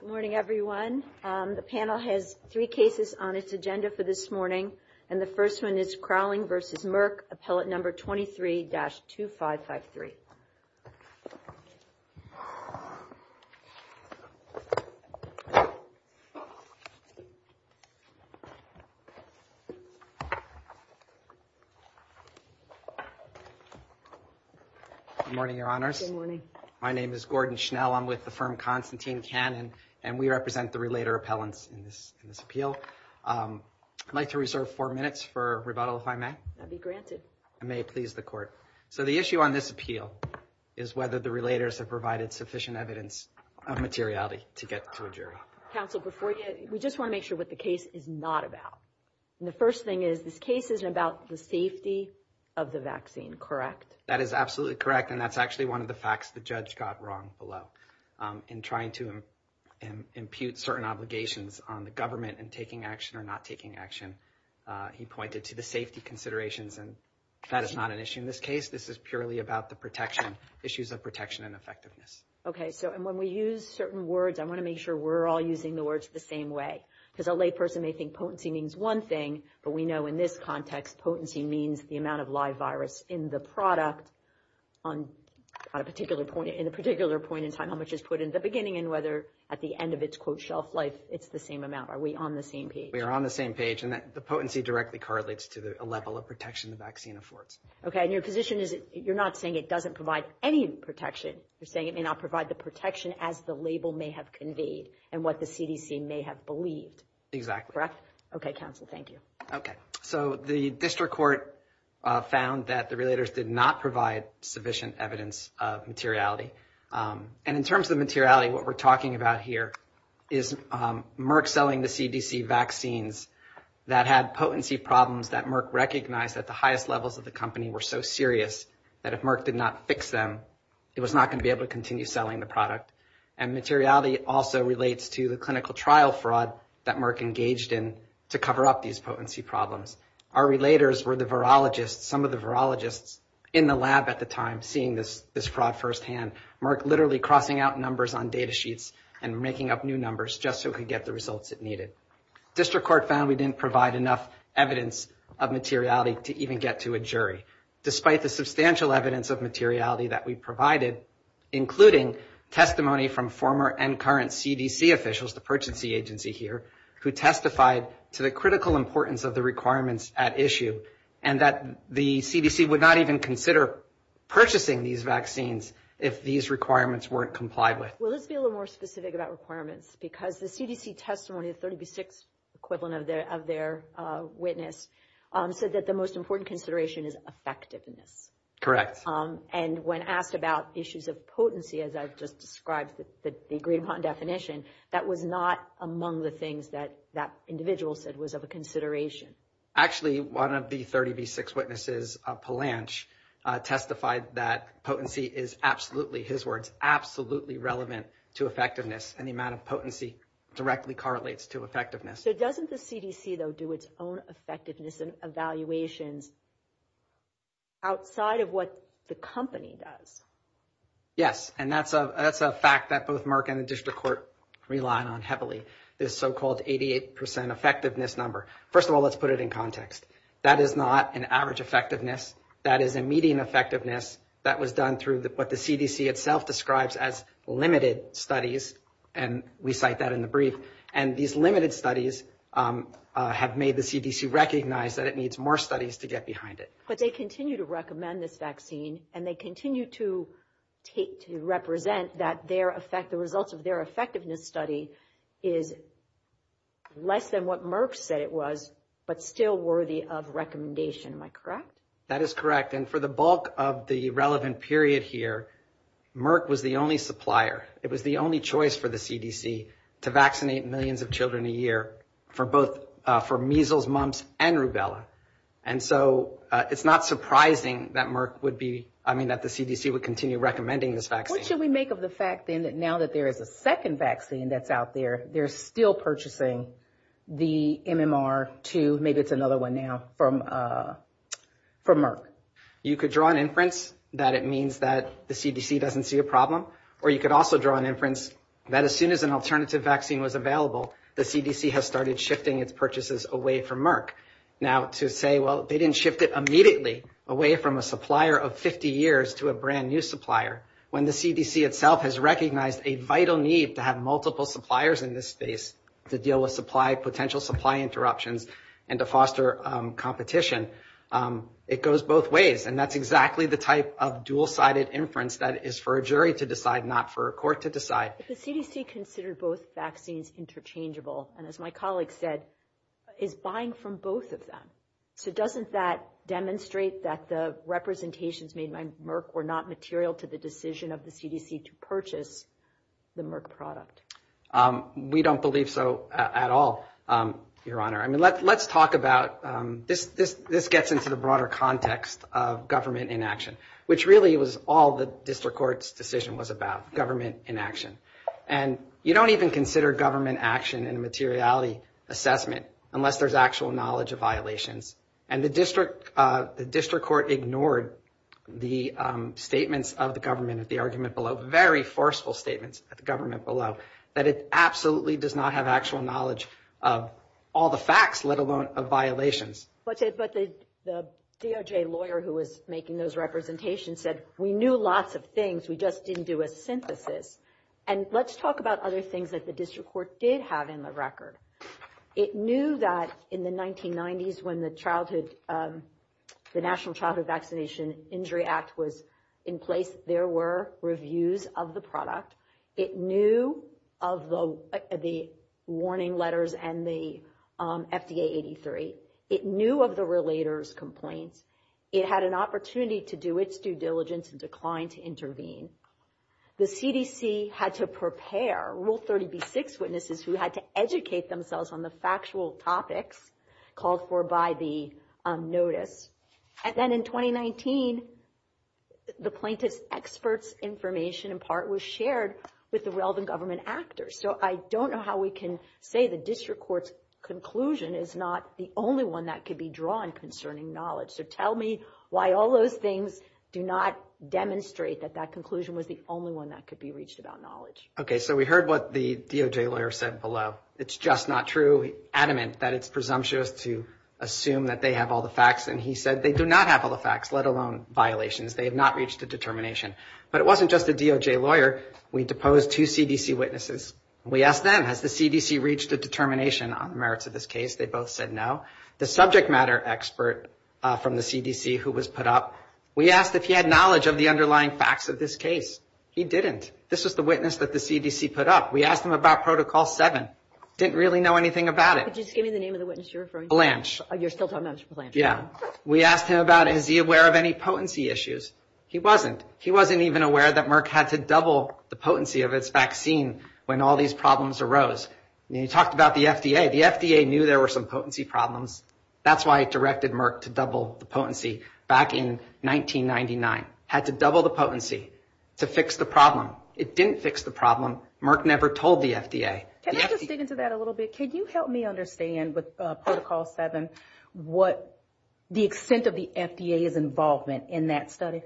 Good morning, everyone. The panel has three cases on its agenda for this morning, and the first one is Krahling v. Merck, appellate number 23-2553. Good morning, Your Honors. Good morning. My name is Gordon Schnell. I'm with the firm Constantine Cannon, and we represent the relator appellants in this appeal. I'd like to reserve four minutes for rebuttal, if I may. That'd be granted. I may please the Court. So the issue on this appeal is whether the relators have provided sufficient evidence of materiality to get to a jury. Counsel, before you, we just want to make sure what the case is not about. And the first thing is this case isn't about the safety of the vaccine, correct? That is absolutely correct, and that's actually one of the facts the judge got wrong below. In trying to impute certain obligations on the government in taking action or not taking action, he pointed to the safety considerations. And that is not an issue in this case. This is purely about the protection, issues of protection and effectiveness. Okay. So when we use certain words, I want to make sure we're all using the words the same way. Because a layperson may think potency means one thing, but we know in this context potency means the amount of live virus in the product on a particular point, in a particular point in time, how much is put in the beginning, and whether at the end of its, quote, shelf life, it's the same amount. Are we on the same page? We are on the same page, and the potency directly correlates to the level of protection the vaccine affords. Okay, and your position is you're not saying it doesn't provide any protection. You're saying it may not provide the protection as the label may have conveyed and what the CDC may have believed. Exactly. Okay, counsel, thank you. Okay. So the district court found that the relators did not provide sufficient evidence of materiality. And in terms of materiality, what we're talking about here is Merck selling the CDC vaccines that had potency problems that Merck recognized that the highest levels of the company were so serious that if Merck did not fix them, it was not going to be able to continue selling the product. And materiality also relates to the clinical trial fraud that Merck engaged in to cover up these potency problems. Our relators were the virologists, some of the virologists in the lab at the time seeing this fraud firsthand. Merck literally crossing out numbers on data sheets and making up new numbers just so it could get the results it needed. District court found we didn't provide enough evidence of materiality to even get to a jury, despite the substantial evidence of materiality that we provided, including testimony from former and current CDC officials, the potency agency here, who testified to the critical importance of the requirements at issue and that the CDC would not even consider purchasing these vaccines if these requirements weren't complied with. Well, let's be a little more specific about requirements, because the CDC testimony, the 30B6 equivalent of their witness, said that the most important consideration is effectiveness. Correct. And when asked about issues of potency, as I've just described the agreed upon definition, that was not among the things that that individual said was of a consideration. Actually, one of the 30B6 witnesses, Palanch, testified that potency is absolutely, his words, absolutely relevant to effectiveness and the amount of potency directly correlates to effectiveness. So doesn't the CDC, though, do its own effectiveness and evaluations outside of what the company does? Yes, and that's a fact that both Merck and the district court rely on heavily, this so-called 88 percent effectiveness number. First of all, let's put it in context. That is not an average effectiveness. That is a median effectiveness that was done through what the CDC itself describes as limited studies, and we cite that in the brief. And these limited studies have made the CDC recognize that it needs more studies to get behind it. But they continue to recommend this vaccine, and they continue to represent that the results of their effectiveness study is less than what Merck said it was, but still worthy of recommendation. Am I correct? That is correct. And for the bulk of the relevant period here, Merck was the only supplier. It was the only choice for the CDC to vaccinate millions of children a year for measles, mumps, and rubella. And so it's not surprising that Merck would be, I mean, that the CDC would continue recommending this vaccine. What should we make of the fact, then, that now that there is a second vaccine that's out there, they're still purchasing the MMR2, maybe it's another one now, from Merck? You could draw an inference that it means that the CDC doesn't see a problem, or you could also draw an inference that as soon as an alternative vaccine was available, the CDC has started shifting its purchases away from Merck. Now, to say, well, they didn't shift it immediately away from a supplier of 50 years to a brand-new supplier, when the CDC itself has recognized a vital need to have multiple suppliers in this space to deal with supply, potential supply interruptions, and to foster competition, it goes both ways. And that's exactly the type of dual-sided inference that is for a jury to decide, not for a court to decide. But the CDC considered both vaccines interchangeable, and as my colleague said, is buying from both of them. So doesn't that demonstrate that the representations made by Merck were not material to the decision of the CDC to purchase the Merck product? We don't believe so at all, Your Honor. I mean, let's talk about this gets into the broader context of government inaction, which really was all the district court's decision was about, government inaction. And you don't even consider government action in a materiality assessment unless there's actual knowledge of violations. And the district court ignored the statements of the government at the argument below, very forceful statements of the government below, that it absolutely does not have actual knowledge of all the facts, let alone of violations. But the DOJ lawyer who was making those representations said, we knew lots of things, we just didn't do a synthesis. And let's talk about other things that the district court did have in the record. It knew that in the 1990s, when the Childhood, the National Childhood Vaccination Injury Act was in place, there were reviews of the product. It knew of the warning letters and the FDA 83. It knew of the relators complaints. It had an opportunity to do its due diligence and declined to intervene. The CDC had to prepare rule 36 witnesses who had to educate themselves on the factual topics called for by the notice. And then in 2019, the plaintiff's experts information in part was shared with the relevant government actors. So I don't know how we can say the district court's conclusion is not the only one that could be drawn concerning knowledge. So tell me why all those things do not demonstrate that that conclusion was the only one that could be reached about knowledge. OK, so we heard what the DOJ lawyer said below. It's just not true. Adamant that it's presumptuous to assume that they have all the facts. And he said they do not have all the facts, let alone violations. They have not reached a determination. But it wasn't just the DOJ lawyer. We deposed two CDC witnesses. We asked them, has the CDC reached a determination on the merits of this case? They both said no. The subject matter expert from the CDC who was put up. We asked if he had knowledge of the underlying facts of this case. He didn't. This was the witness that the CDC put up. We asked him about protocol seven. Didn't really know anything about it. Just give me the name of the witness you're referring to. Blanche. You're still talking about Blanche. Yeah. We asked him about is he aware of any potency issues? He wasn't. He wasn't even aware that Merck had to double the potency of its vaccine when all these problems arose. You talked about the FDA. The FDA knew there were some potency problems. That's why it directed Merck to double the potency back in 1999. Had to double the potency to fix the problem. It didn't fix the problem. Merck never told the FDA. Can I just dig into that a little bit? Can you help me understand with protocol seven what the extent of the FDA's involvement in that study?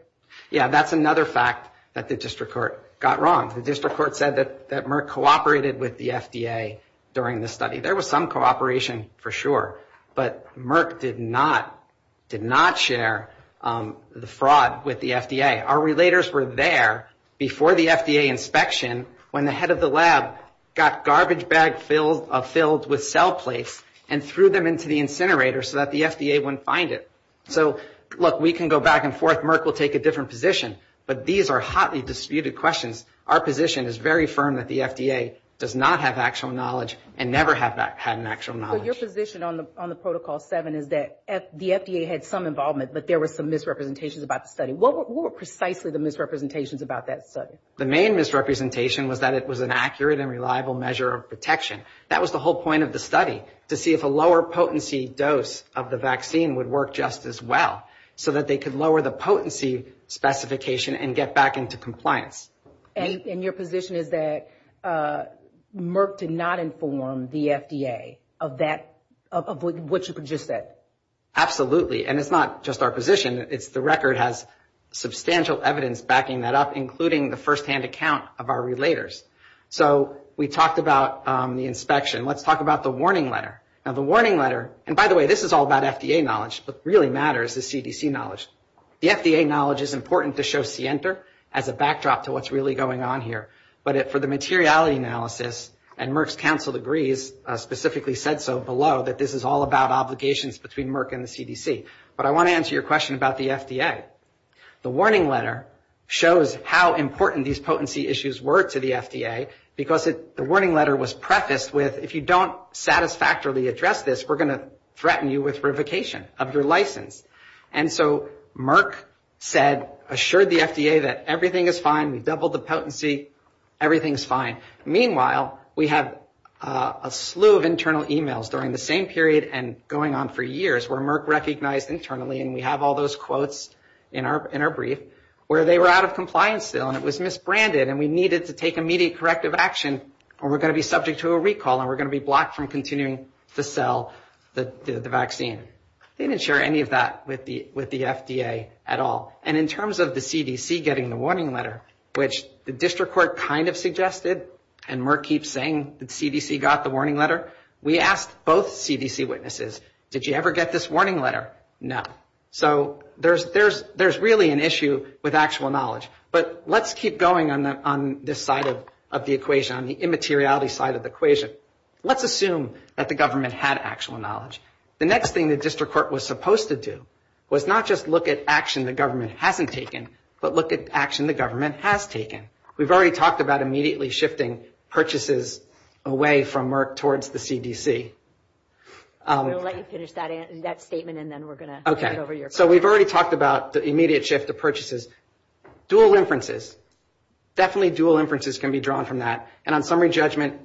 Yeah. That's another fact that the district court got wrong. The district court said that Merck cooperated with the FDA during the study. There was some cooperation for sure, but Merck did not share the fraud with the FDA. Our relators were there before the FDA inspection when the head of the lab got garbage bags filled with cell plates and threw them into the incinerator so that the FDA wouldn't find it. So look, we can go back and forth. Merck will take a different position. But these are hotly disputed questions. Our position is very firm that the FDA does not have actual knowledge and never had an actual knowledge. So your position on the protocol seven is that the FDA had some involvement, but there were some misrepresentations about the study. What were precisely the misrepresentations about that study? The main misrepresentation was that it was an accurate and reliable measure of protection. That was the whole point of the study, to see if a lower potency dose of the vaccine would work just as well, so that they could lower the potency specification and get back into compliance. And your position is that Merck did not inform the FDA of what you just said? Absolutely. And it's not just our position. It's the record has substantial evidence backing that up, including the firsthand account of our relators. So we talked about the inspection. Let's talk about the warning letter. Now, the warning letter, and by the way, this is all about FDA knowledge. What really matters is CDC knowledge. The FDA knowledge is important to show Sienter as a backdrop to what's really going on here. But for the materiality analysis, and Merck's counsel agrees, specifically said so below, that this is all about obligations between Merck and the CDC. But I want to answer your question about the FDA. The warning letter shows how important these potency issues were to the FDA, because the warning letter was prefaced with, if you don't satisfactorily address this, we're going to threaten you with revocation of your license. And so Merck said, assured the FDA that everything is fine, we've doubled the potency, everything's fine. Meanwhile, we have a slew of internal e-mails during the same period and going on for years, where Merck recognized internally, and we have all those quotes in our brief, where they were out of compliance still, and it was misbranded, and we needed to take immediate corrective action or we're going to be subject to a recall and we're going to be blocked from continuing to sell the vaccine. They didn't share any of that with the FDA at all. And in terms of the CDC getting the warning letter, which the district court kind of suggested, and Merck keeps saying the CDC got the warning letter, we asked both CDC witnesses, did you ever get this warning letter? No. So there's really an issue with actual knowledge. But let's keep going on this side of the equation, on the immateriality side of the equation. Let's assume that the government had actual knowledge. The next thing the district court was supposed to do was not just look at action the government hasn't taken, but look at action the government has taken. We've already talked about immediately shifting purchases away from Merck towards the CDC. I'm going to let you finish that statement, and then we're going to head over to your part. Okay. So we've already talked about the immediate shift of purchases. Dual inferences, definitely dual inferences can be drawn from that. And on summary judgment,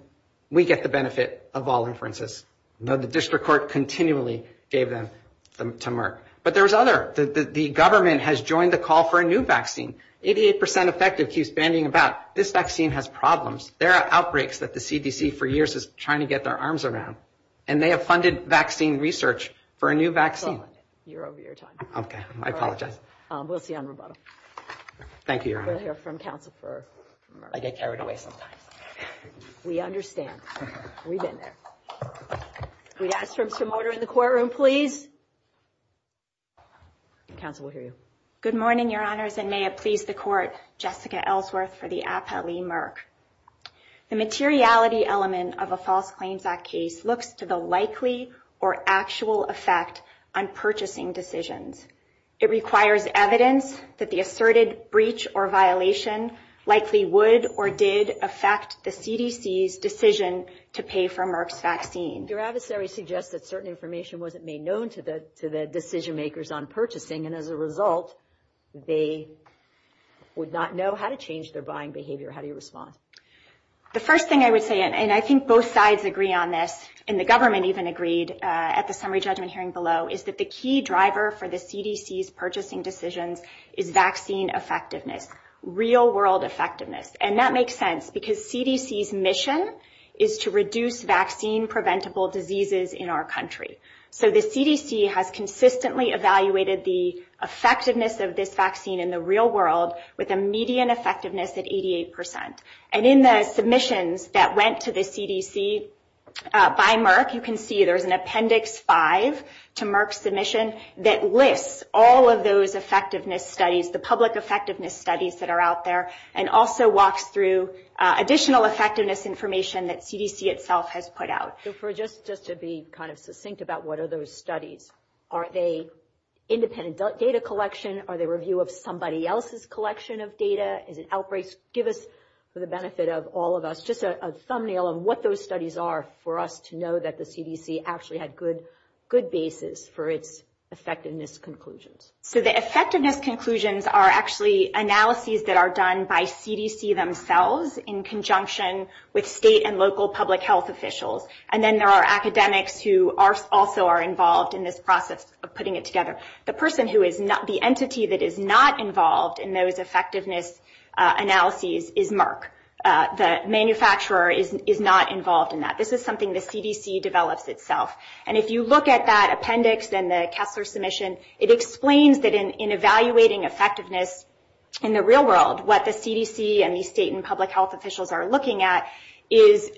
we get the benefit of all inferences. The district court continually gave them to Merck. But there's other. The government has joined the call for a new vaccine. 88% effective keeps bandying about. This vaccine has problems. There are outbreaks that the CDC for years is trying to get their arms around, and they have funded vaccine research for a new vaccine. You're over your time. Okay. I apologize. We'll see you on Roboto. Thank you, Your Honor. We'll hear from counsel for Merck. I get carried away sometimes. We understand. We've been there. Can we ask for some order in the courtroom, please? Counsel will hear you. Good morning, Your Honors, and may it please the court. Jessica Ellsworth for the appellee Merck. The materiality element of a False Claims Act case looks to the likely or actual effect on purchasing decisions. It requires evidence that the asserted breach or violation likely would or did affect the CDC's decision to pay for Merck's vaccine. Your adversary suggests that certain information wasn't made known to the decision-makers on purchasing, and as a result, they would not know how to change their buying behavior. How do you respond? The first thing I would say, and I think both sides agree on this, and the government even agreed at the summary judgment hearing below, is that the key driver for the CDC's purchasing decisions is vaccine effectiveness, real-world effectiveness. And that makes sense because CDC's mission is to reduce vaccine-preventable diseases in our country. So the CDC has consistently evaluated the effectiveness of this vaccine in the real world with a median effectiveness at 88%. And in the submissions that went to the CDC by Merck, you can see there's an Appendix 5 to Merck's submission that lists all of those effectiveness studies, the public effectiveness studies that are out there, and also walks through additional effectiveness information that CDC itself has put out. So just to be kind of succinct about what are those studies, are they independent data collection? Are they review of somebody else's collection of data? Is it outbreaks? Give us, for the benefit of all of us, just a thumbnail of what those studies are for us to know that the CDC actually had good basis for its effectiveness conclusions. So the effectiveness conclusions are actually analyses that are done by CDC themselves in conjunction with state and local public health officials. And then there are academics who also are involved in this process of putting it together. The entity that is not involved in those effectiveness analyses is Merck. The manufacturer is not involved in that. This is something the CDC develops itself. And if you look at that appendix in the Kessler submission, it explains that in evaluating effectiveness in the real world, what the CDC and the state and public health officials are looking at is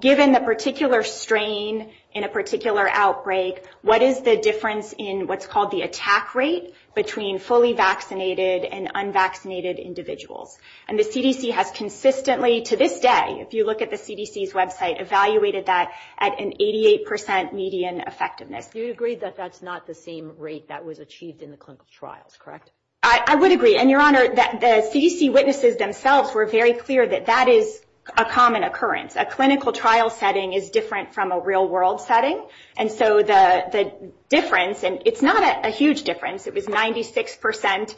given the particular strain in a particular outbreak, what is the difference in what's called the attack rate between fully vaccinated and unvaccinated individuals? And the CDC has consistently, to this day, if you look at the CDC's website, evaluated that at an 88% median effectiveness. Do you agree that that's not the same rate that was achieved in the clinical trials, correct? I would agree. And, Your Honor, the CDC witnesses themselves were very clear that that is a common occurrence. A clinical trial setting is different from a real world setting. And so the difference, and it's not a huge difference, it was 96%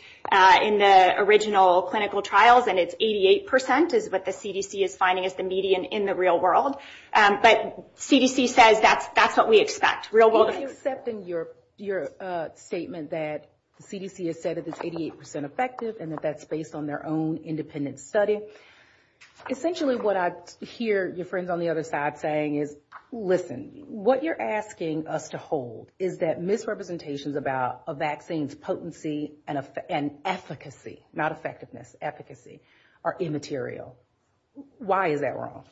in the original clinical trials, and it's 88% is what the CDC is finding is the median in the real world. But CDC says that's what we expect, real world. You're accepting your statement that the CDC has said it is 88% effective and that that's based on their own independent study. Essentially what I hear your friends on the other side saying is, listen, what you're asking us to hold is that misrepresentations about a vaccine's potency and efficacy, not effectiveness, efficacy, are immaterial. Why is that wrong?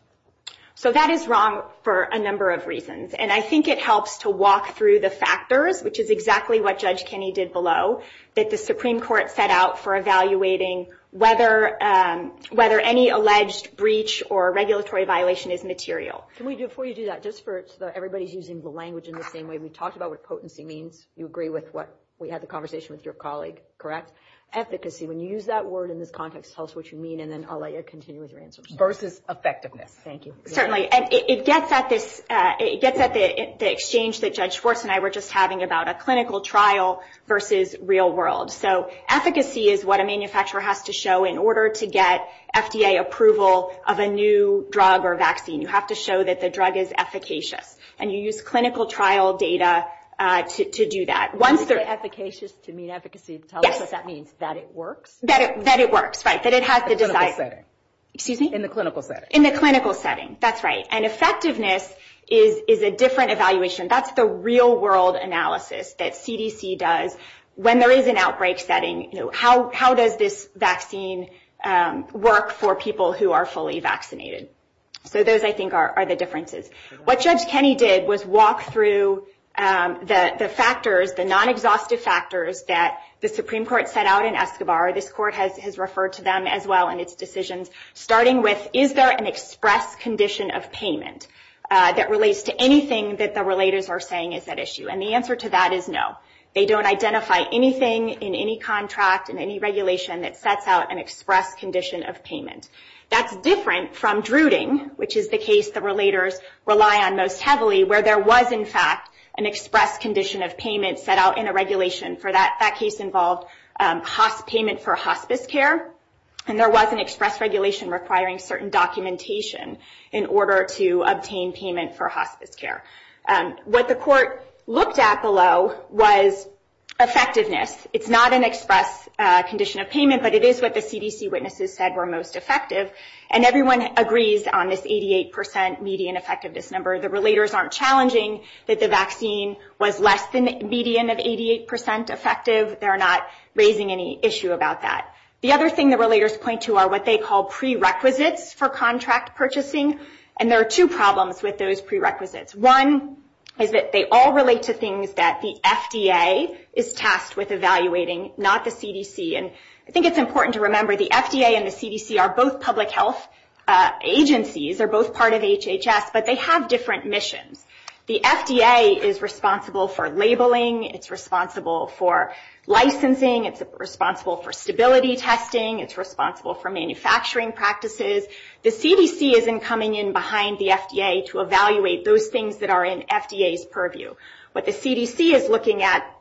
So that is wrong for a number of reasons. And I think it helps to walk through the factors, which is exactly what Judge Kenney did below, that the Supreme Court set out for evaluating whether any alleged breach or regulatory violation is material. Before you do that, just so everybody's using the language in the same way, we talked about what potency means. You agree with what we had the conversation with your colleague, correct? Efficacy, when you use that word in this context, tell us what you mean, and then I'll let you continue with your answers. Versus effectiveness. Thank you. Certainly. It gets at the exchange that Judge Schwartz and I were just having about a clinical trial versus real world. So efficacy is what a manufacturer has to show in order to get FDA approval of a new drug or vaccine. You have to show that the drug is efficacious. And you use clinical trial data to do that. When you say efficacious to mean efficacy, tell us what that means, that it works? That it works, right. In the clinical setting. In the clinical setting, that's right. And effectiveness is a different evaluation. That's the real world analysis that CDC does. When there is an outbreak setting, how does this vaccine work for people who are fully vaccinated? So those, I think, are the differences. What Judge Kenney did was walk through the factors, the non-exhaustive factors that the Supreme Court set out in Escobar. This court has referred to them as well in its decisions, starting with is there an express condition of payment that relates to anything that the relators are saying is at issue? And the answer to that is no. They don't identify anything in any contract, in any regulation that sets out an express condition of payment. That's different from Druding, which is the case the relators rely on most heavily, where there was in fact an express condition of payment set out in a regulation for that. That case involved payment for hospice care. And there was an express regulation requiring certain documentation in order to obtain payment for hospice care. What the court looked at below was effectiveness. It's not an express condition of payment, but it is what the CDC witnesses said were most effective. And everyone agrees on this 88% median effectiveness number. The relators aren't challenging that the vaccine was less than the median of 88% effective. They're not raising any issue about that. The other thing the relators point to are what they call prerequisites for contract purchasing. And there are two problems with those prerequisites. One is that they all relate to things that the FDA is tasked with evaluating, not the CDC. And I think it's important to remember the FDA and the CDC are both public health agencies. They're both part of HHS, but they have different missions. The FDA is responsible for labeling. It's responsible for licensing. It's responsible for stability testing. It's responsible for manufacturing practices. The CDC isn't coming in behind the FDA to evaluate those things that are in FDA's purview. What the CDC is looking at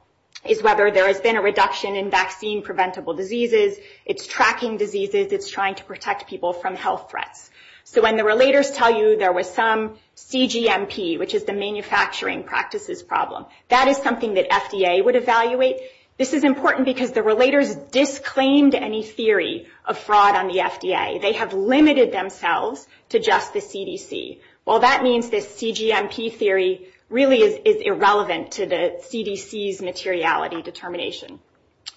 is whether there has been a reduction in vaccine preventable diseases. It's tracking diseases. It's trying to protect people from health threats. So when the relators tell you there was some CGMP, which is the manufacturing practices problem, that is something that FDA would evaluate. This is important because the relators disclaimed any theory of fraud on the They have limited themselves to just the CDC. Well, that means this CGMP theory really is irrelevant to the CDC's materiality determination.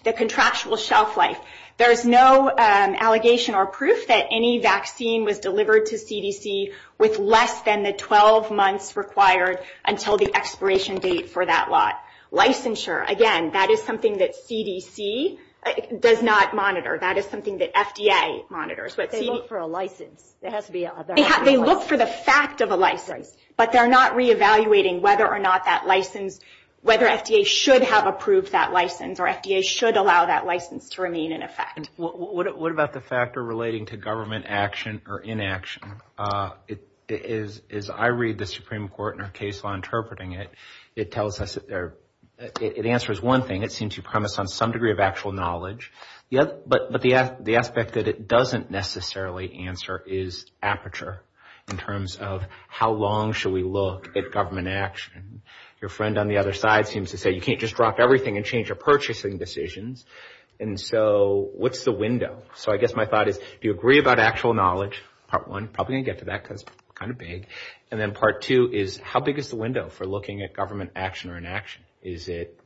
The contractual shelf life. There is no allegation or proof that any vaccine was delivered to CDC with less than the 12 months required until the expiration date for that lot. Licensure, again, that is something that CDC does not monitor. That is something that FDA monitors. They look for a license. They look for the fact of a license, but they're not reevaluating whether or not that license, whether FDA should have approved that license, or FDA should allow that license to remain in effect. What about the factor relating to government action or inaction? As I read the Supreme Court in our case law interpreting it, it tells us, it answers one thing. It seems to premise on some degree of actual knowledge, but the aspect that it doesn't necessarily answer is aperture in terms of how long should we look at government action? Your friend on the other side seems to say, you can't just drop everything and change your purchasing decisions. What's the window? I guess my thought is, do you agree about actual knowledge, part one? Probably going to get to that because it's kind of big. Then part two is, how big is the window for looking at government action or inaction? Is it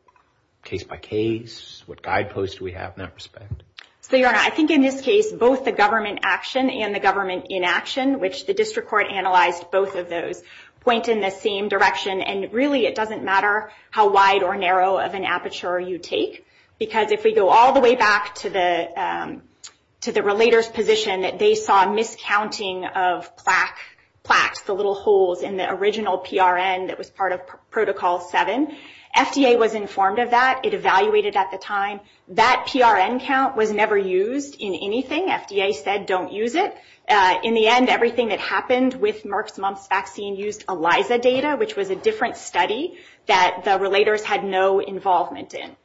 case by case? What guideposts do we have in that respect? Your Honor, I think in this case, both the government action and the government inaction, which the district court analyzed both of those, point in the same direction. Really, it doesn't matter how wide or narrow of an aperture you take, because if we go all the way back to the relator's position that they saw miscounting of plaques, the little holes, in the original PRN that was part of Protocol 7, FDA was informed of that. It evaluated at the time. That PRN count was never used in anything. FDA said, don't use it. In the end, everything that happened with Merck's mumps vaccine used ELISA data, which was a different study that the relators had no involvement in.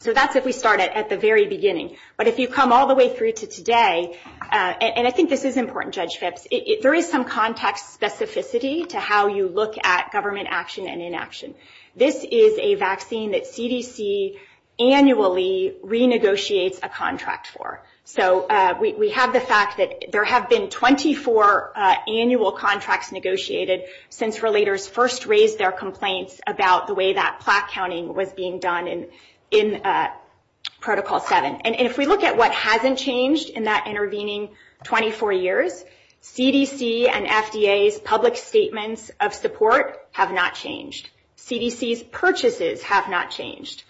So that's if we start at the very beginning. But if you come all the way through to today, and I think this is important, Judge Phipps, there is some context specificity to how you look at government action and inaction. This is a vaccine that CDC annually renegotiates a contract for. So we have the fact that there have been 24 annual contracts negotiated since relators first raised their complaints about the way that plaque counting was being done in Protocol 7. And if we look at what hasn't changed in that intervening 24 years, CDC and FDA's public statements of support have not changed. CDC's purchases have not changed.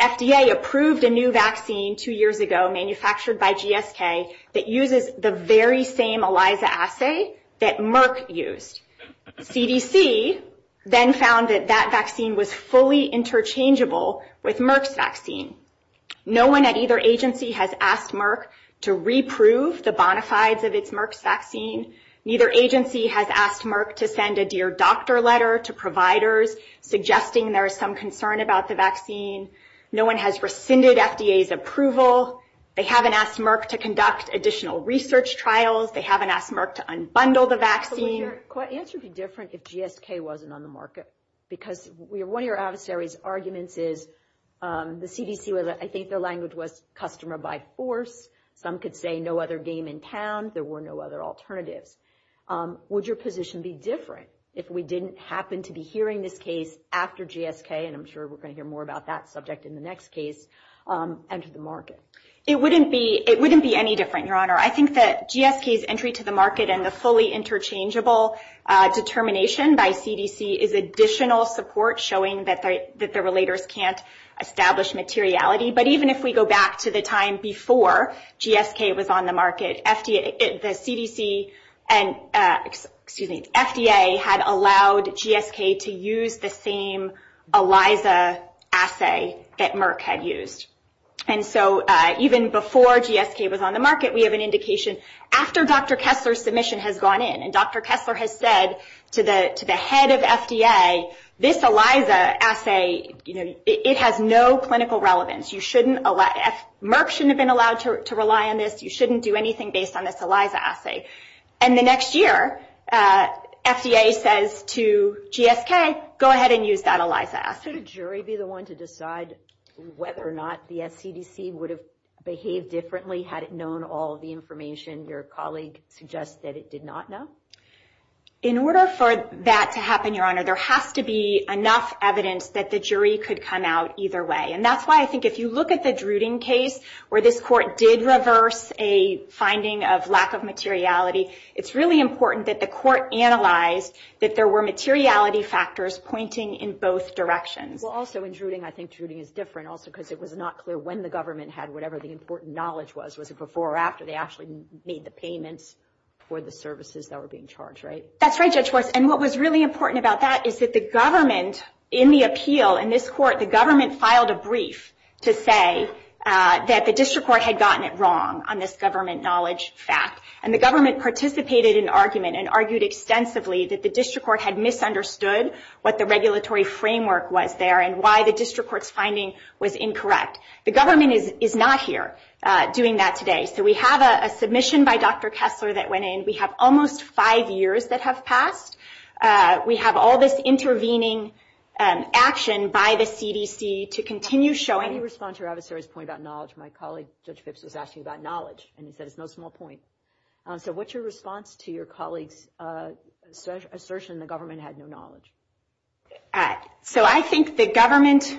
FDA approved a new vaccine two years ago, manufactured by GSK that uses the very same ELISA assay that Merck used. CDC then found that that vaccine was fully interchangeable with Merck's vaccine. No one at either agency has asked Merck to reprove the bona fides of its Merck's vaccine. Neither agency has asked Merck to send a dear doctor letter to providers suggesting there is some concern about the vaccine. No one has rescinded FDA's approval. They haven't asked Merck to conduct additional research trials. They haven't asked Merck to unbundle the vaccine. Could your answer be different if GSK wasn't on the market? Because one of your adversary's arguments is the CDC, I think their language was customer by force. Some could say no other game in town. There were no other alternatives. Would your position be different if we didn't happen to be hearing this case after GSK, and I'm sure we're going to hear more about that subject in the next case, enter the market? It wouldn't be any different, Your Honor. I think that GSK's entry to the market and the fully interchangeable determination by CDC is additional support showing that the relators can't establish materiality. But even if we go back to the time before GSK was on the market, FDA had allowed GSK to use the same ELISA assay that Merck had used. And so even before GSK was on the market, we have an indication after Dr. Kessler's submission has gone in, and Dr. Kessler has said to the head of FDA, this ELISA assay, it has no clinical relevance. Merck shouldn't have been allowed to rely on this. You shouldn't do anything based on this ELISA assay. And the next year, FDA says to GSK, go ahead and use that ELISA assay. Should a jury be the one to decide whether or not the CDC would have behaved differently had it known all of the information your colleague suggested it did not know? In order for that to happen, Your Honor, there has to be enough evidence that the jury could come out either way. And that's why I think if you look at the Druding case, where this court did reverse a finding of lack of materiality, it's really important that the court analyzed that there were materiality factors pointing in both directions. Well, also in Druding, I think Druding is different also because it was not clear when the government had whatever the important knowledge was. Was it before or after they actually made the payments for the services that were being charged, right? That's right, Judge Worse. And what was really important about that is that the government, in the appeal in this court, the government filed a brief to say that the district court had gotten it wrong on this government knowledge fact. And the government participated in the argument and argued extensively that the district court had misunderstood what the regulatory framework was there and why the district court's finding was incorrect. The government is not here doing that today. So we have a submission by Dr. Kessler that went in. We have almost five years that have passed. We have all this intervening action by the CDC to continue showing... Can you respond to Ravisseri's point about knowledge? My colleague, Judge Phipps, was asking about knowledge, and he said it's no small point. So what's your response to your colleague's assertion the government had no knowledge? So I think the government,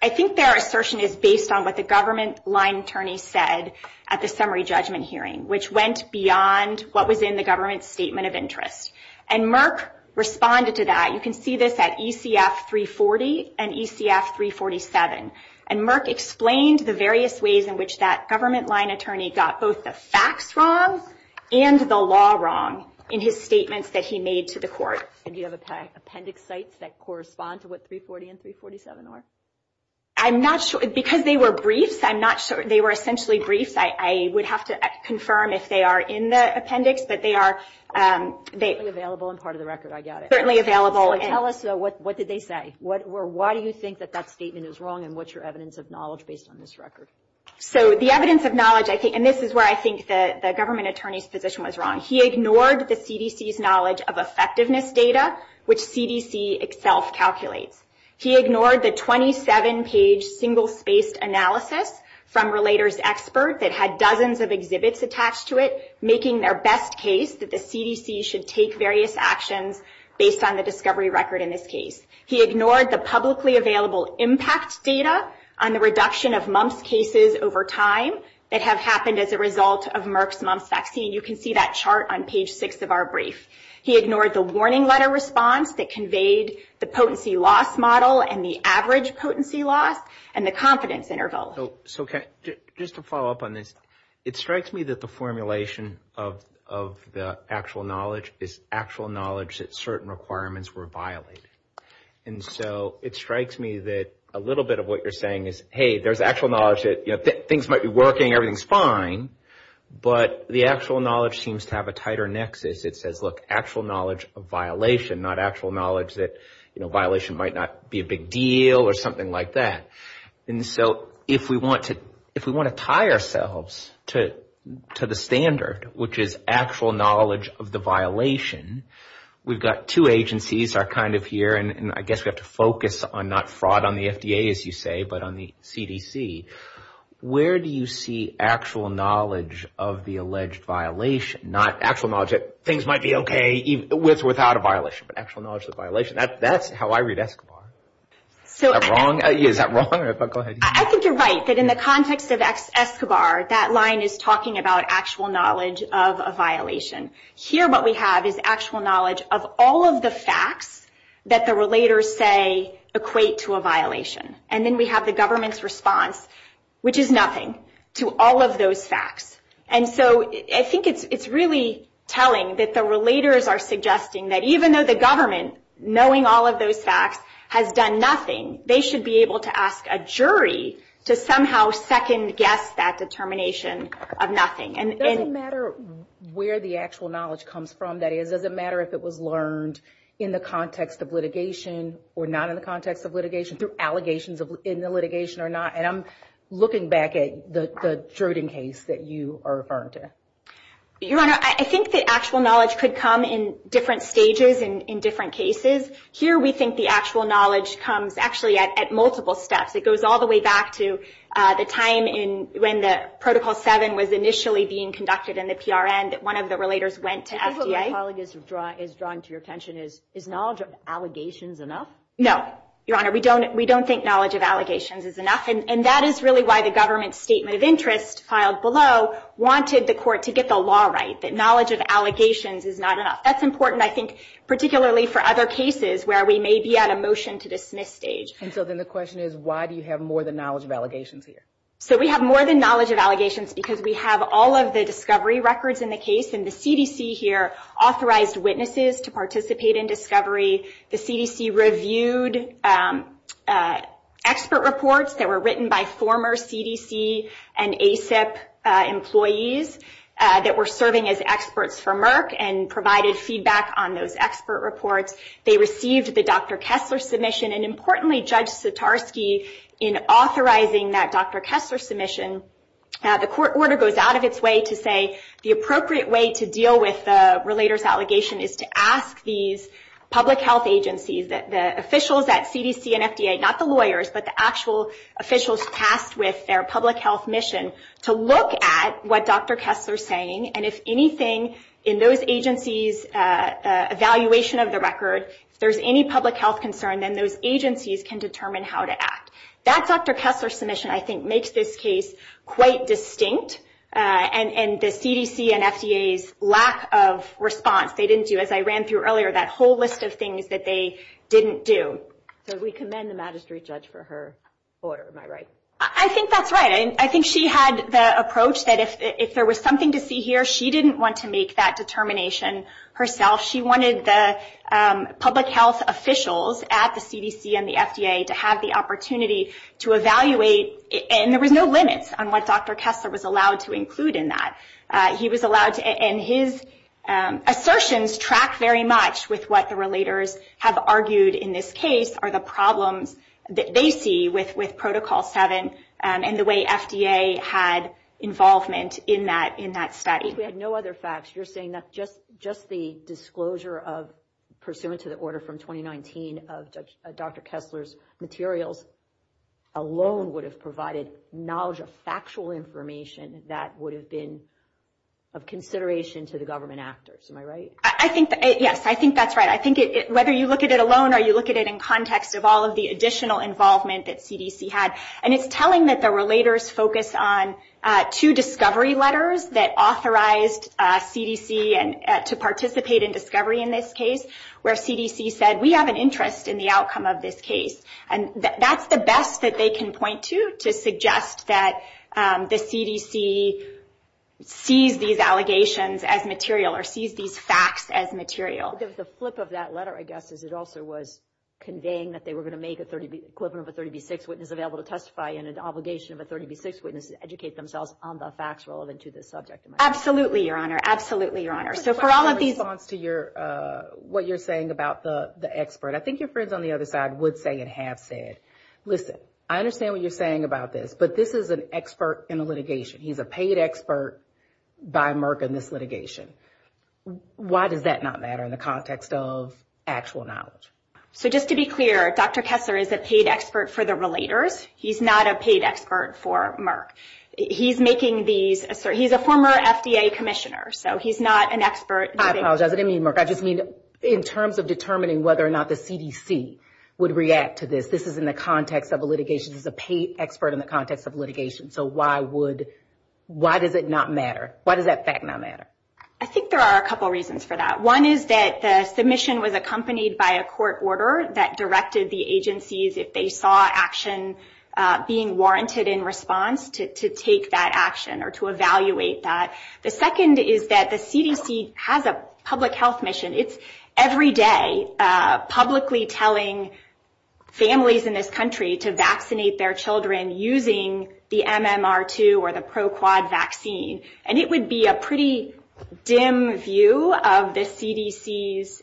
I think their assertion is based on what the government line attorney said at the summary judgment hearing, which went beyond what was in the government's statement of interest. And Merck responded to that. You can see this at ECF 340 and ECF 347. And Merck explained the various ways in which that government line attorney got both the facts wrong and the law wrong in his statements that he made to the court. Do you have appendix sites that correspond to what 340 and 347 are? I'm not sure. Because they were briefs, I'm not sure. They were essentially briefs. I would have to confirm if they are in the appendix, but they are. Certainly available and part of the record. I got it. Certainly available. So tell us what did they say? Why do you think that that statement is wrong, and what's your evidence of knowledge based on this record? So the evidence of knowledge, and this is where I think the government attorney's position was wrong. He ignored the CDC's knowledge of effectiveness data, which CDC itself calculates. He ignored the 27-page single-spaced analysis from Relator's Expert that had dozens of exhibits attached to it, making their best case that the CDC should take various actions based on the discovery record in this case. He ignored the publicly available impact data on the reduction of mumps cases over time that have happened as a result of Merck's mumps vaccine. You can see that chart on page 6 of our brief. He ignored the warning letter response that conveyed the potency loss model and the average potency loss and the confidence interval. So just to follow up on this, it strikes me that the formulation of the actual knowledge is actual knowledge that certain requirements were violated. And so it strikes me that a little bit of what you're saying is, hey, there's actual knowledge that things might be working, everything's fine, but the actual knowledge seems to have a tighter nexus. It says, look, actual knowledge of violation, not actual knowledge that violation might not be a big deal or something like that. And so if we want to tie ourselves to the standard, which is actual knowledge of the violation, we've got two agencies are kind of here, and I guess we have to focus on not fraud on the FDA, as you say, but on the CDC. Where do you see actual knowledge of the alleged violation, not actual knowledge that things might be okay with or without a violation, but actual knowledge of the violation? That's how I read Escobar. Is that wrong? I think you're right, that in the context of Escobar, that line is talking about actual knowledge of a violation. Here what we have is actual knowledge of all of the facts that the relators say equate to a violation. And then we have the government's response, which is nothing, to all of those facts. And so I think it's really telling that the relators are suggesting that even though the government, knowing all of those facts, has done nothing, they should be able to ask a jury to somehow second-guess that determination of nothing. It doesn't matter where the actual knowledge comes from, that is. It doesn't matter if it was learned in the context of litigation or not in the context of litigation, through allegations in the litigation or not. And I'm looking back at the Druden case that you are referring to. Your Honor, I think that actual knowledge could come in different stages in different cases. Here we think the actual knowledge comes actually at multiple steps. It goes all the way back to the time when Protocol 7 was initially being conducted in the PRN, that one of the relators went to FDA. I think what my colleague is drawing to your attention is, is knowledge of allegations enough? No, Your Honor, we don't think knowledge of allegations is enough. And that is really why the government's statement of interest, filed below, wanted the court to get the law right, that knowledge of allegations is not enough. That's important, I think, particularly for other cases where we may be at a motion-to-dismiss stage. And so then the question is, why do you have more than knowledge of allegations here? So we have more than knowledge of allegations because we have all of the discovery records in the case, and the CDC here authorized witnesses to participate in discovery. The CDC reviewed expert reports that were written by former CDC and ACIP employees that were serving as experts for Merck, and provided feedback on those expert reports. They received the Dr. Kessler submission, and importantly Judge Sotarski, in authorizing that Dr. Kessler submission, the court order goes out of its way to say the appropriate way to deal with the relator's allegation is to ask these public health agencies, the officials at CDC and FDA, not the lawyers, but the actual officials tasked with their public health mission, to look at what Dr. Kessler's saying, and if anything, in those agencies' evaluation of the record, if there's any public health concern, then those agencies can determine how to act. That Dr. Kessler submission, I think, makes this case quite distinct, and the CDC and FDA's lack of response, they didn't do, as I ran through earlier, that whole list of things that they didn't do. So we commend the magistrate judge for her order, am I right? I think that's right. I think she had the approach that if there was something to see here, she didn't want to make that determination herself. She wanted the public health officials at the CDC and the FDA to have the opportunity to evaluate, and there was no limits on what Dr. Kessler was allowed to include in that. He was allowed to, and his assertions track very much with what the relators have argued in this case, are the problems that they see with Protocol 7 and the way FDA had involvement in that study. We had no other facts. You're saying that just the disclosure, pursuant to the order from 2019, of Dr. Kessler's materials alone would have provided knowledge of factual information that would have been of consideration to the government actors, am I right? Yes, I think that's right. I think whether you look at it alone or you look at it in context of all of the additional involvement that CDC had, and it's telling that the relators focused on two discovery letters that authorized CDC to participate in discovery in this case where CDC said, we have an interest in the outcome of this case, and that's the best that they can point to to suggest that the CDC sees these allegations as material or sees these facts as material. The flip of that letter, I guess, is it also was conveying that they were going to make a equivalent of a 30B6 witness available to testify and an obligation of a 30B6 witness to educate themselves on the facts relevant to this subject. Absolutely, Your Honor. Absolutely, Your Honor. So for all of these... In response to what you're saying about the expert, I think your friends on the other side would say and have said, listen, I understand what you're saying about this, but this is an expert in a litigation. He's a paid expert by Merck in this litigation. Why does that not matter in the context of actual knowledge? So just to be clear, Dr. Kessler is a paid expert for the relators. He's not a paid expert for Merck. He's a former FDA commissioner, so he's not an expert. I apologize. I didn't mean Merck. I just mean in terms of determining whether or not the CDC would react to this. This is in the context of a litigation. This is a paid expert in the context of litigation. So why does it not matter? Why does that fact not matter? I think there are a couple reasons for that. One is that the submission was accompanied by a court order that directed the agencies, if they saw action being warranted in response, to take that action or to evaluate that. The second is that the CDC has a public health mission. It's every day publicly telling families in this country to vaccinate their children using the MMR2 or the ProQuad vaccine, and it would be a pretty dim view of the CDC's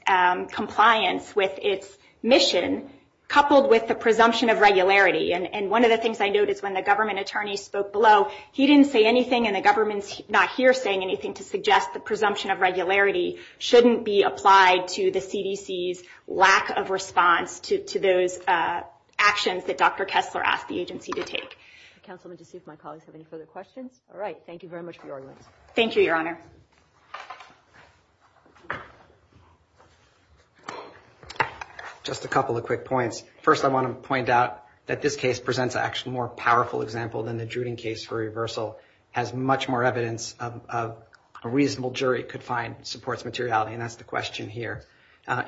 compliance with its mission, coupled with the presumption of regularity. And one of the things I note is when the government attorney spoke below, he didn't say anything, and the government's not here saying anything to suggest the presumption of regularity shouldn't be applied to the CDC's lack of response to those actions that Dr. Kessler asked the agency to take. Councilman, to see if my colleagues have any further questions. All right. Thank you very much for your arguments. Thank you, Your Honor. Just a couple of quick points. First, I want to point out that this case presents an actually more powerful example than the Druden case for reversal. It has much more evidence of a reasonable jury could find supports materiality, and that's the question here,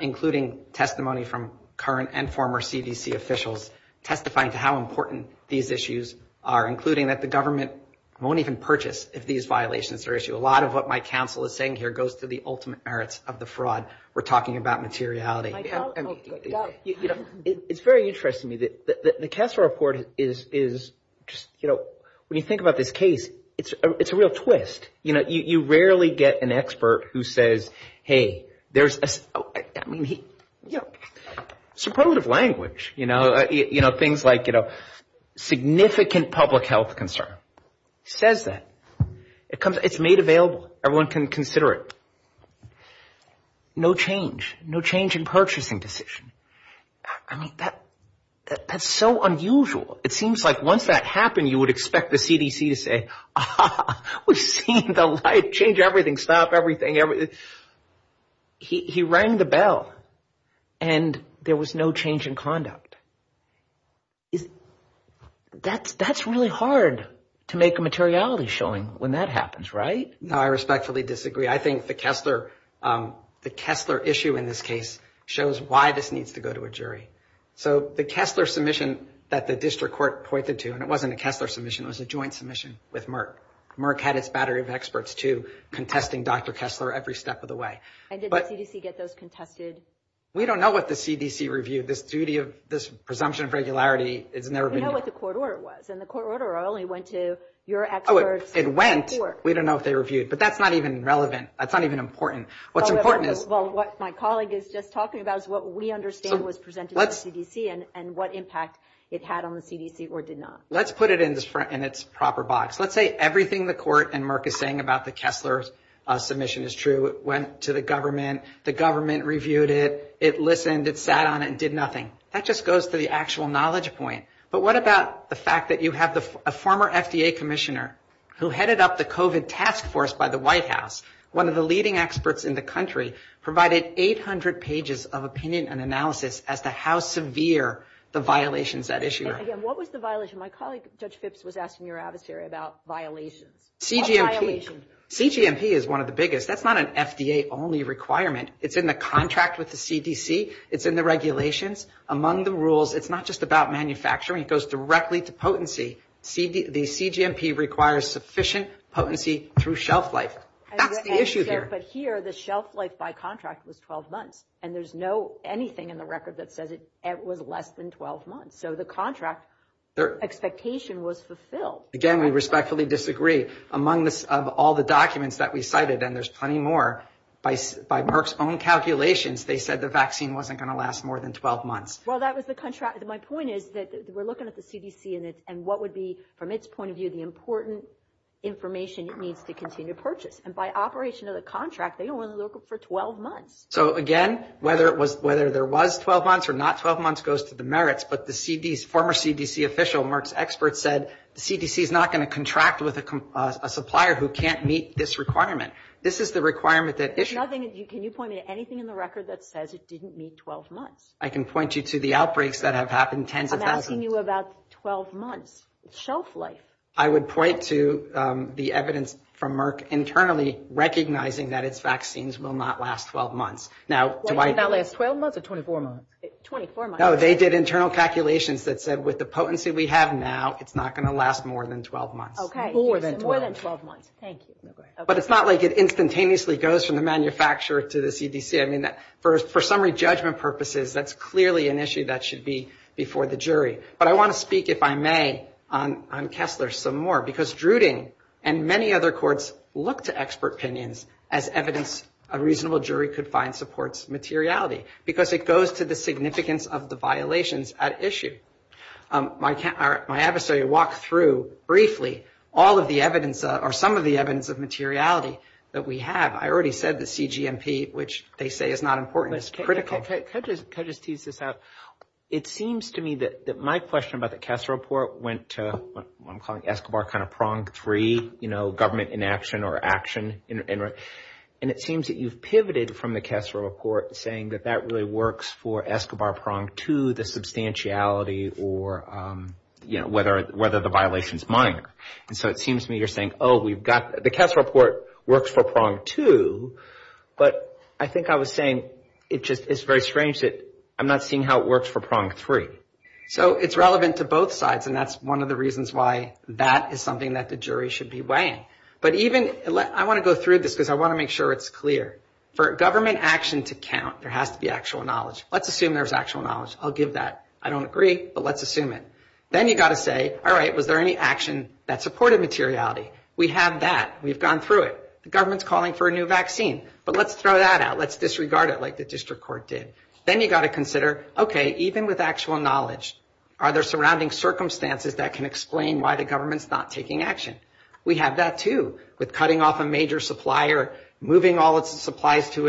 including testimony from current and former CDC officials testifying to how important these issues are, including that the government won't even purchase if these violations are issued. A lot of what my counsel is saying here goes to the ultimate merits of the fraud. We're talking about materiality. It's very interesting to me that the Kessler report is just, you know, when you think about this case, it's a real twist. You know, you rarely get an expert who says, hey, there's a supportive language, you know, things like, you know, significant public health concern. Says that. It's made available. Everyone can consider it. No change. No change in purchasing decision. I mean, that's so unusual. It seems like once that happened, you would expect the CDC to say, we've seen the light, change everything, stop everything. He rang the bell, and there was no change in conduct. That's really hard to make a materiality showing when that happens, right? No, I respectfully disagree. I think the Kessler issue in this case shows why this needs to go to a jury. So the Kessler submission that the district court pointed to, and it wasn't a Kessler submission, it was a joint submission with Merck. Merck had its battery of experts, too, contesting Dr. Kessler every step of the way. And did the CDC get those contested? We don't know what the CDC reviewed. This duty of, this presumption of regularity has never been. We know what the court order was, and the court order only went to your experts. It went. We don't know if they reviewed. But that's not even relevant. That's not even important. What's important is. Well, what my colleague is just talking about is what we understand was presented to the CDC and what impact it had on the CDC or did not. Let's put it in its proper box. Let's say everything the court and Merck is saying about the Kessler submission is true. It went to the government. The government reviewed it. It listened. It sat on it and did nothing. That just goes to the actual knowledge point. But what about the fact that you have a former FDA commissioner who headed up the COVID task force by the White House, one of the leading experts in the country, provided 800 pages of opinion and analysis as to how severe the violations that issue. And again, what was the violation? My colleague, Judge Phipps, was asking your adversary about violations. CGMP is one of the biggest. That's not an FDA-only requirement. It's in the contract with the CDC. It's in the regulations. Among the rules, it's not just about manufacturing. It goes directly to potency. The CGMP requires sufficient potency through shelf life. That's the issue here. But here, the shelf life by contract was 12 months. And there's no anything in the record that says it was less than 12 months. So the contract expectation was fulfilled. Again, we respectfully disagree. Among all the documents that we cited, and there's plenty more, by Merck's own calculations, they said the vaccine wasn't going to last more than 12 months. Well, that was the contract. My point is that we're looking at the CDC and what would be, from its point of view, the important information it needs to continue to purchase. And by operation of the contract, they don't want to look for 12 months. So, again, whether there was 12 months or not 12 months goes to the merits. But the former CDC official, Merck's expert, said the CDC is not going to contract with a supplier who can't meet this requirement. This is the requirement that issued. Can you point to anything in the record that says it didn't meet 12 months? I can point you to the outbreaks that have happened, tens of thousands. I'm asking you about 12 months. It's shelf life. I would point to the evidence from Merck internally recognizing that its vaccines will not last 12 months. Now, do I do this? Why did it not last 12 months or 24 months? 24 months. No, they did internal calculations that said with the potency we have now, it's not going to last more than 12 months. Okay. More than 12. More than 12 months. Thank you. But it's not like it instantaneously goes from the manufacturer to the CDC. I mean, for summary judgment purposes, that's clearly an issue that should be before the jury. But I want to speak, if I may, on Kessler some more. Because Druding and many other courts look to expert opinions as evidence a reasonable jury could find supports materiality. Because it goes to the significance of the violations at issue. My adversary walked through briefly all of the evidence or some of the evidence of materiality that we have. I already said the CGMP, which they say is not important, is critical. Can I just tease this out? It seems to me that my question about the Kessler report went to what I'm calling Escobar kind of prong three, you know, government inaction or action. And it seems that you've pivoted from the Kessler report saying that that really works for Escobar prong two, the substantiality or, you know, whether the violation is minor. And so it seems to me you're saying, oh, we've got the Kessler report works for prong two. But I think I was saying it just is very strange that I'm not seeing how it works for prong three. So it's relevant to both sides, and that's one of the reasons why that is something that the jury should be weighing. But even I want to go through this because I want to make sure it's clear. For government action to count, there has to be actual knowledge. Let's assume there's actual knowledge. I'll give that. I don't agree, but let's assume it. Then you've got to say, all right, was there any action that supported materiality? We have that. We've gone through it. The government's calling for a new vaccine. But let's throw that out. Let's disregard it like the district court did. Then you've got to consider, okay, even with actual knowledge, are there surrounding circumstances that can explain why the government's not taking action? We have that, too, with cutting off a major supplier, moving all its supplies to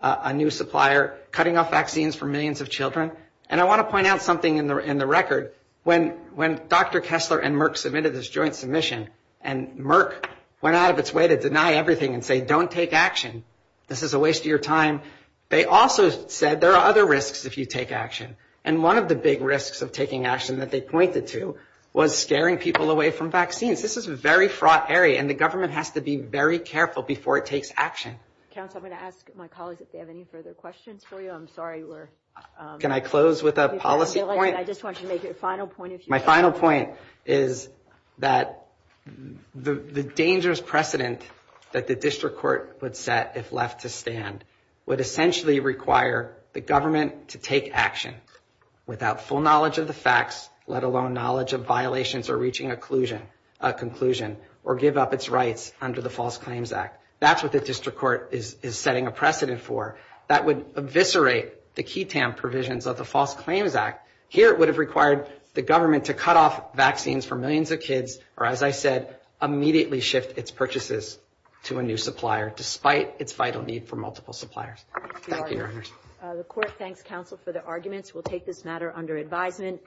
a new supplier, cutting off vaccines for millions of children. And I want to point out something in the record. When Dr. Kessler and Merck submitted this joint submission and Merck went out of its way to deny everything and say, don't take action, this is a waste of your time, they also said there are other risks if you take action. And one of the big risks of taking action that they pointed to was scaring people away from vaccines. This is a very fraught area, and the government has to be very careful before it takes action. Counsel, I'm going to ask my colleagues if they have any further questions for you. I'm sorry. Can I close with a policy point? I just want you to make your final point. My final point is that the dangerous precedent that the district court would set if left to stand would essentially require the government to take action without full knowledge of the facts, let alone knowledge of violations or reaching a conclusion or give up its rights under the False Claims Act. That's what the district court is setting a precedent for. That would eviscerate the key TAM provisions of the False Claims Act. Here it would have required the government to cut off vaccines for millions of kids or, as I said, immediately shift its purchases to a new supplier despite its vital need for multiple suppliers. Thank you, Your Honor. The court thanks counsel for their arguments. We'll take this matter under advisement.